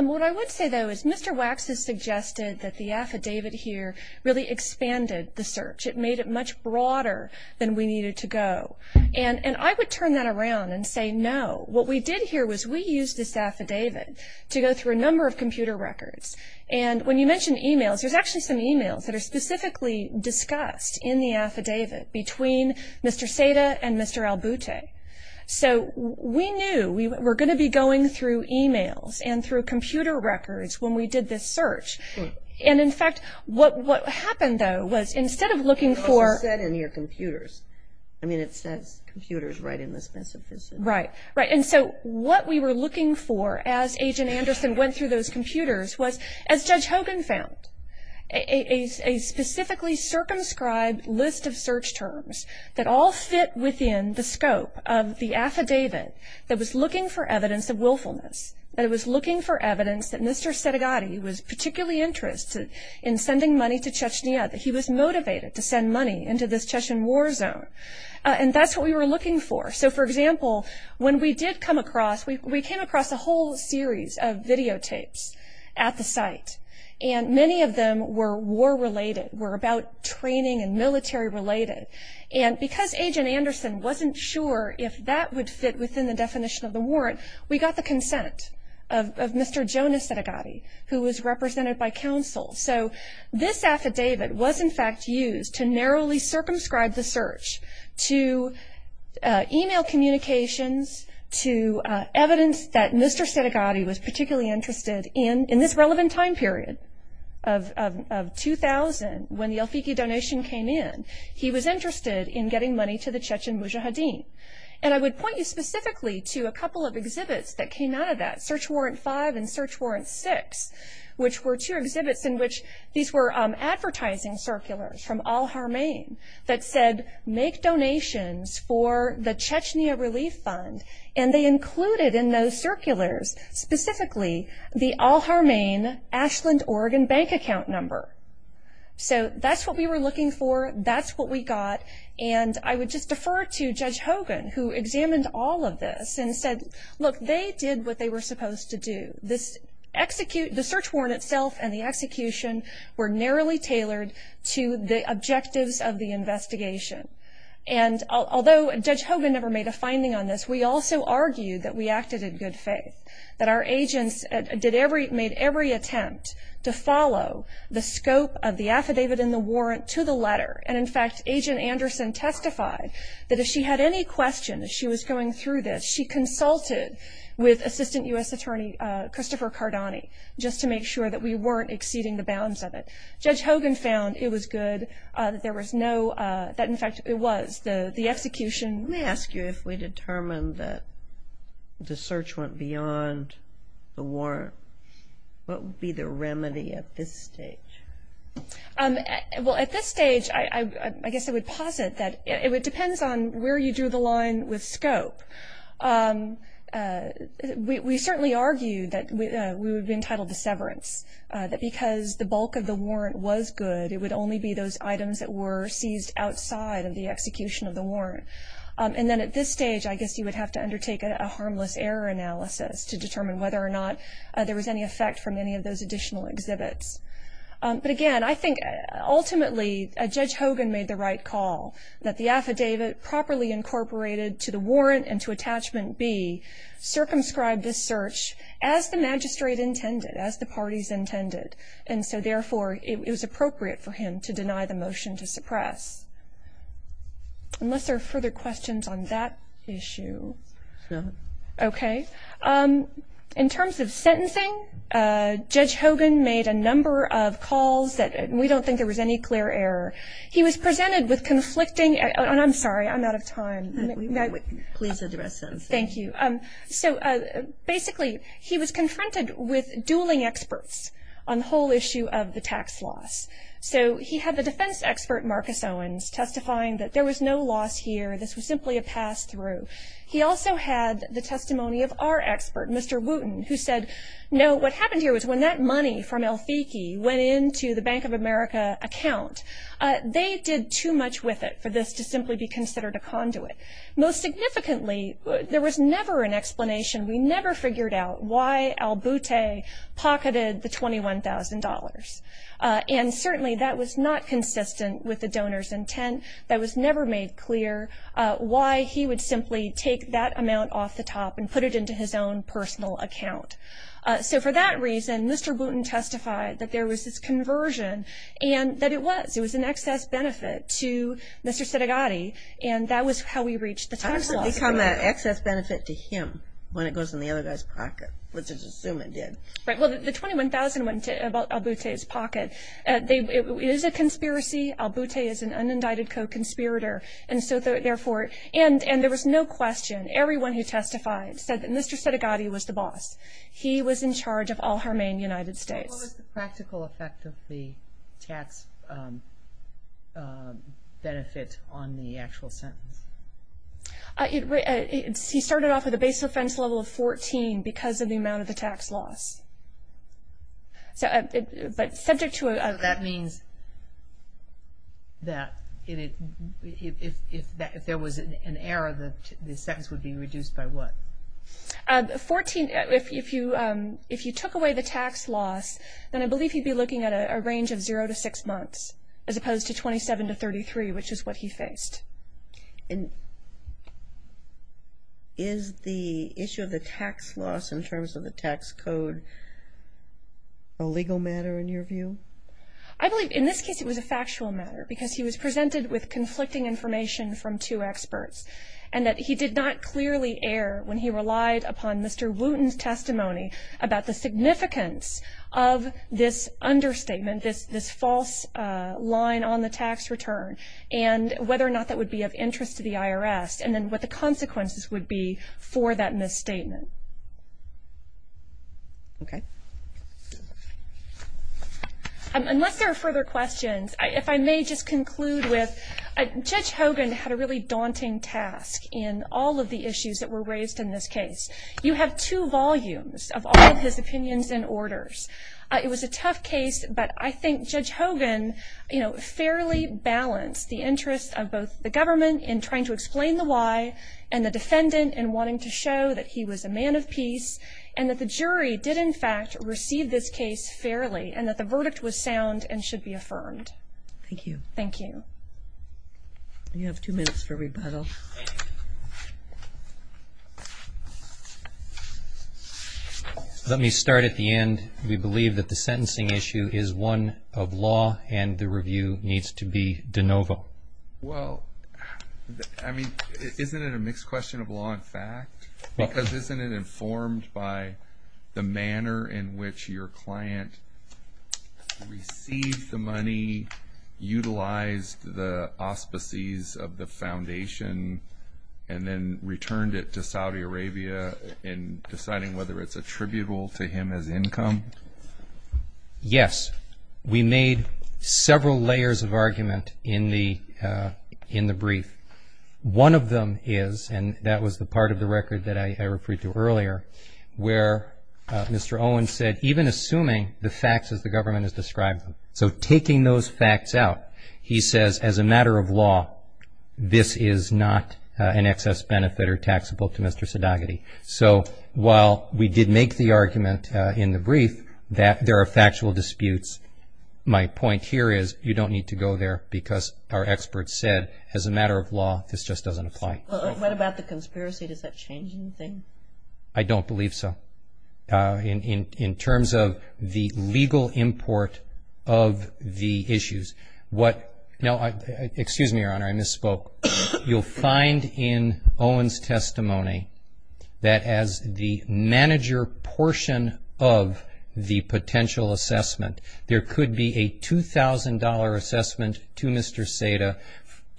What I would say, though, is Mr. Wax has suggested that the affidavit here really expanded the search. It made it much broader than we needed to go. And I would turn that around and say no. What we did here was we used this affidavit to go through a number of computer records. And when you mention e-mails, there's actually some e-mails that are specifically discussed in the affidavit between Mr. Seda and Mr. Albute. So we knew we were going to be going through e-mails and through computer records when we did this search. And, in fact, what happened, though, was instead of looking for- It also said in here computers. I mean it says computers right in the specificity. Right. And so what we were looking for as Agent Anderson went through those computers was, as Judge Hogan found, a specifically circumscribed list of search terms that all fit within the scope of the affidavit that was looking for evidence of willfulness, that it was looking for evidence that Mr. Sedagati was particularly interested in sending money to Chechnya, that he was motivated to send money into this Chechen war zone. And that's what we were looking for. So, for example, when we did come across- We came across a whole series of videotapes at the site. And many of them were war-related, were about training and military-related. And because Agent Anderson wasn't sure if that would fit within the definition of the warrant, we got the consent of Mr. Jonas Sedagati, who was represented by counsel. So this affidavit was, in fact, used to narrowly circumscribe the search, to e-mail communications, to evidence that Mr. Sedagati was particularly interested in. In this relevant time period of 2000, when the El Fiqui donation came in, he was interested in getting money to the Chechen Mujahideen. And I would point you specifically to a couple of exhibits that came out of that, Search Warrant 5 and Search Warrant 6, which were two exhibits in which these were advertising circulars from Al-Harmain that said, make donations for the Chechnya Relief Fund. And they included in those circulars, specifically, the Al-Harmain Ashland, Oregon bank account number. So that's what we were looking for. That's what we got. And I would just defer to Judge Hogan, who examined all of this and said, look, they did what they were supposed to do. The search warrant itself and the execution were narrowly tailored to the objectives of the investigation. And although Judge Hogan never made a finding on this, we also argued that we acted in good faith, that our agents made every attempt to follow the scope of the affidavit and the warrant to the letter. And, in fact, Agent Anderson testified that if she had any questions as she was going through this, she consulted with Assistant U.S. Attorney Christopher Cardani, just to make sure that we weren't exceeding the bounds of it. Judge Hogan found it was good that there was no – that, in fact, it was. Let me ask you, if we determined that the search went beyond the warrant, what would be the remedy at this stage? Well, at this stage, I guess I would posit that it depends on where you drew the line with scope. We certainly argued that we would be entitled to severance, that because the bulk of the warrant was good, it would only be those items that were seized outside of the execution of the warrant. And then at this stage, I guess you would have to undertake a harmless error analysis to determine whether or not there was any effect from any of those additional exhibits. But, again, I think ultimately Judge Hogan made the right call, that the affidavit properly incorporated to the warrant and to Attachment B circumscribed this search as the magistrate intended, as the parties intended. And so, therefore, it was appropriate for him to deny the motion to suppress. Unless there are further questions on that issue. No. Okay. In terms of sentencing, Judge Hogan made a number of calls that – and we don't think there was any clear error. He was presented with conflicting – and I'm sorry, I'm out of time. Please address them. Thank you. So, basically, he was confronted with dueling experts on the whole issue of the tax loss. So he had the defense expert, Marcus Owens, testifying that there was no loss here, this was simply a pass-through. He also had the testimony of our expert, Mr. Wooten, who said, no, what happened here was when that money from El Fiki went into the Bank of America account, they did too much with it for this to simply be considered a conduit. Most significantly, there was never an explanation. We never figured out why El Boutte pocketed the $21,000. And, certainly, that was not consistent with the donor's intent. That was never made clear why he would simply take that amount off the top and put it into his own personal account. So, for that reason, Mr. Wooten testified that there was this conversion, and that it was. It was an excess benefit to Mr. Sedegatti. And that was how we reached the tax loss. How did it become an excess benefit to him when it goes in the other guy's pocket? Let's just assume it did. Right. Well, the $21,000 went into El Boutte's pocket. It is a conspiracy. El Boutte is an unindicted co-conspirator. And so, therefore, and there was no question. Everyone who testified said that Mr. Sedegatti was the boss. He was in charge of Al-Harmain United States. What was the practical effect of the tax benefit on the actual sentence? He started off with a base offense level of 14 because of the amount of the tax loss. But subject to a That means that if there was an error, the sentence would be reduced by what? 14, if you took away the tax loss, then I believe he'd be looking at a range of zero to six months as opposed to 27 to 33, which is what he faced. And is the issue of the tax loss in terms of the tax code a legal matter in your view? I believe in this case it was a factual matter because he was presented with conflicting information from two experts and that he did not clearly err when he relied upon Mr. Wooten's testimony about the significance of this understatement, this false line on the tax return, and whether or not that would be of interest to the IRS and then what the consequences would be for that misstatement. Okay. Unless there are further questions, if I may just conclude with, Judge Hogan had a really daunting task in all of the issues that were raised in this case. You have two volumes of all of his opinions and orders. It was a tough case, but I think Judge Hogan fairly balanced the interests of both the government in trying to explain the why and the defendant in wanting to show that he was a man of peace and that the jury did in fact receive this case fairly and that the verdict was sound and should be affirmed. Thank you. Thank you. You have two minutes for rebuttal. Let me start at the end. We believe that the sentencing issue is one of law and the review needs to be de novo. Well, I mean, isn't it a mixed question of law and fact? Because isn't it informed by the manner in which your client received the money, utilized the auspices of the foundation, and then returned it to Saudi Arabia in deciding whether it's attributable to him as income? Yes. We made several layers of argument in the brief. One of them is, and that was the part of the record that I referred to earlier, where Mr. Owen said even assuming the facts as the government has described them, so taking those facts out, he says as a matter of law, this is not an excess benefit or taxable to Mr. Sadagaty. So while we did make the argument in the brief that there are factual disputes, my point here is you don't need to go there because our experts said as a matter of law, this just doesn't apply. What about the conspiracy? Does that change anything? I don't believe so. In terms of the legal import of the issues, what – excuse me, Your Honor, I misspoke. You'll find in Owen's testimony that as the manager portion of the potential assessment, there could be a $2,000 assessment to Mr. Sada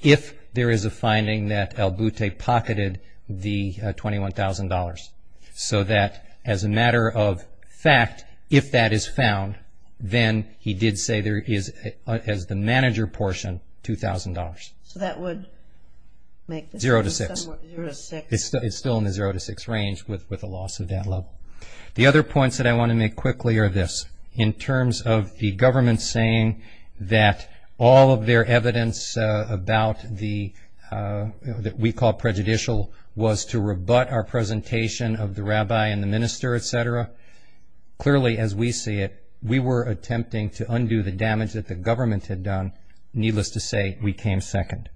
if there is a finding that El-Buteh pocketed the $21,000, so that as a matter of fact, if that is found, then he did say there is, as the manager portion, $2,000. So that would make this – Zero to six. Zero to six. It's still in the zero to six range with the loss of that level. The other points that I want to make quickly are this. In terms of the government saying that all of their evidence about the – that we call prejudicial was to rebut our presentation of the rabbi and the minister, et cetera, clearly as we see it, we were attempting to undo the damage that the government had done, needless to say, we came second.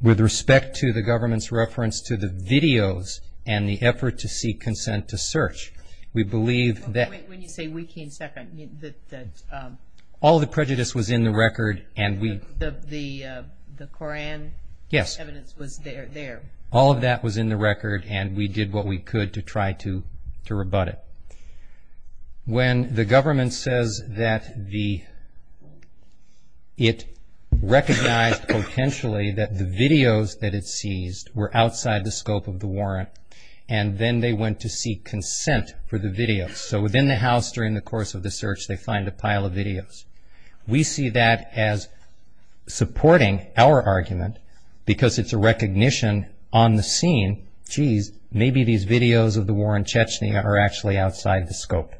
With respect to the government's reference to the videos and the effort to seek consent to search, we believe that – When you say we came second, that – All the prejudice was in the record and we – The Koran evidence was there. All of that was in the record and we did what we could to try to rebut it. When the government says that the – it recognized potentially that the videos that it seized were outside the scope of the warrant and then they went to seek consent for the videos. So within the house during the course of the search they find a pile of videos. We see that as supporting our argument because it's a recognition on the scene, geez, maybe these videos of the war in Chechnya are actually outside the scope.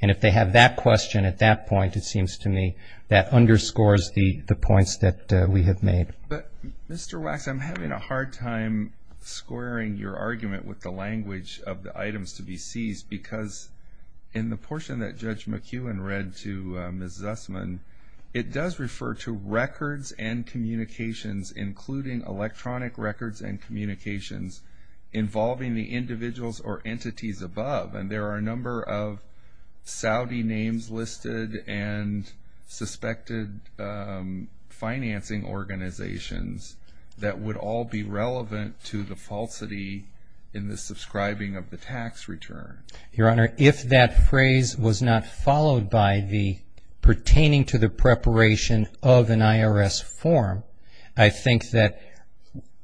And if they have that question at that point, it seems to me, that underscores the points that we have made. But, Mr. Wax, I'm having a hard time squaring your argument with the language of the items to be seized because in the portion that Judge McEwen read to Ms. Zussman, it does refer to records and communications, including electronic records and communications, involving the individuals or entities above. And there are a number of Saudi names listed and suspected financing organizations that would all be relevant to the falsity in the subscribing of the tax return. Your Honor, if that phrase was not followed by the pertaining to the preparation of an IRS form, I think that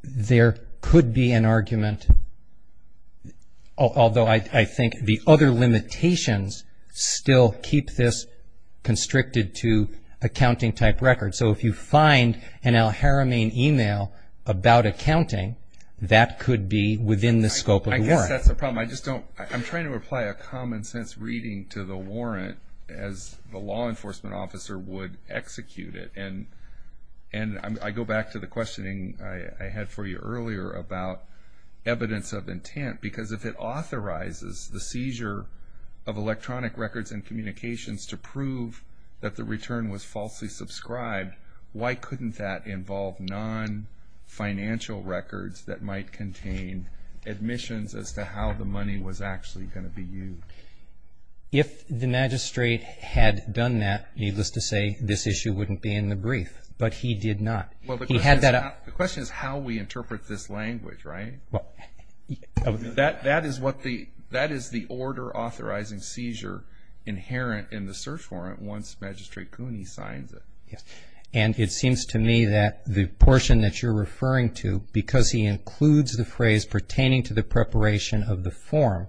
there could be an argument, although I think the other limitations still keep this constricted to accounting-type records. So if you find an al-Haramain email about accounting, that could be within the scope of the warrant. I guess that's the problem. I'm trying to apply a common-sense reading to the warrant as the law enforcement officer would execute it. And I go back to the questioning I had for you earlier about evidence of intent, because if it authorizes the seizure of electronic records and communications to prove that the return was falsely subscribed, why couldn't that involve non-financial records that might contain admissions as to how the money was actually going to be used? If the magistrate had done that, needless to say, this issue wouldn't be in the brief. But he did not. Well, the question is how we interpret this language, right? That is the order authorizing seizure inherent in the search warrant once Magistrate Cooney signs it. And it seems to me that the portion that you're referring to, because he includes the phrase pertaining to the preparation of the form,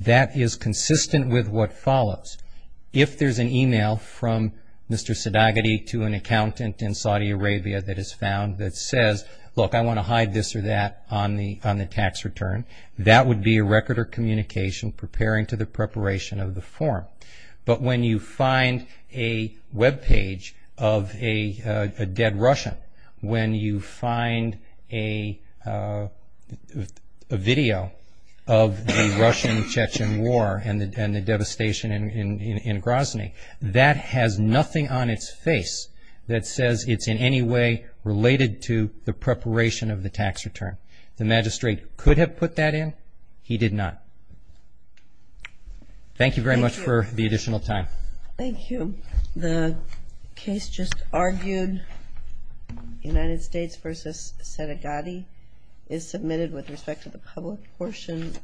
that is consistent with what follows. If there's an email from Mr. Sadagotti to an accountant in Saudi Arabia that is found that says, look, I want to hide this or that on the tax return, that would be a record or communication preparing to the preparation of the form. But when you find a webpage of a dead Russian, when you find a video of the Russian-Chechen War and the devastation in Grozny, that has nothing on its face that says it's in any way related to the preparation of the tax return. The magistrate could have put that in. He did not. Thank you very much for the additional time. Thank you. The case just argued, United States v. Sadagotti, is submitted with respect to the public portion.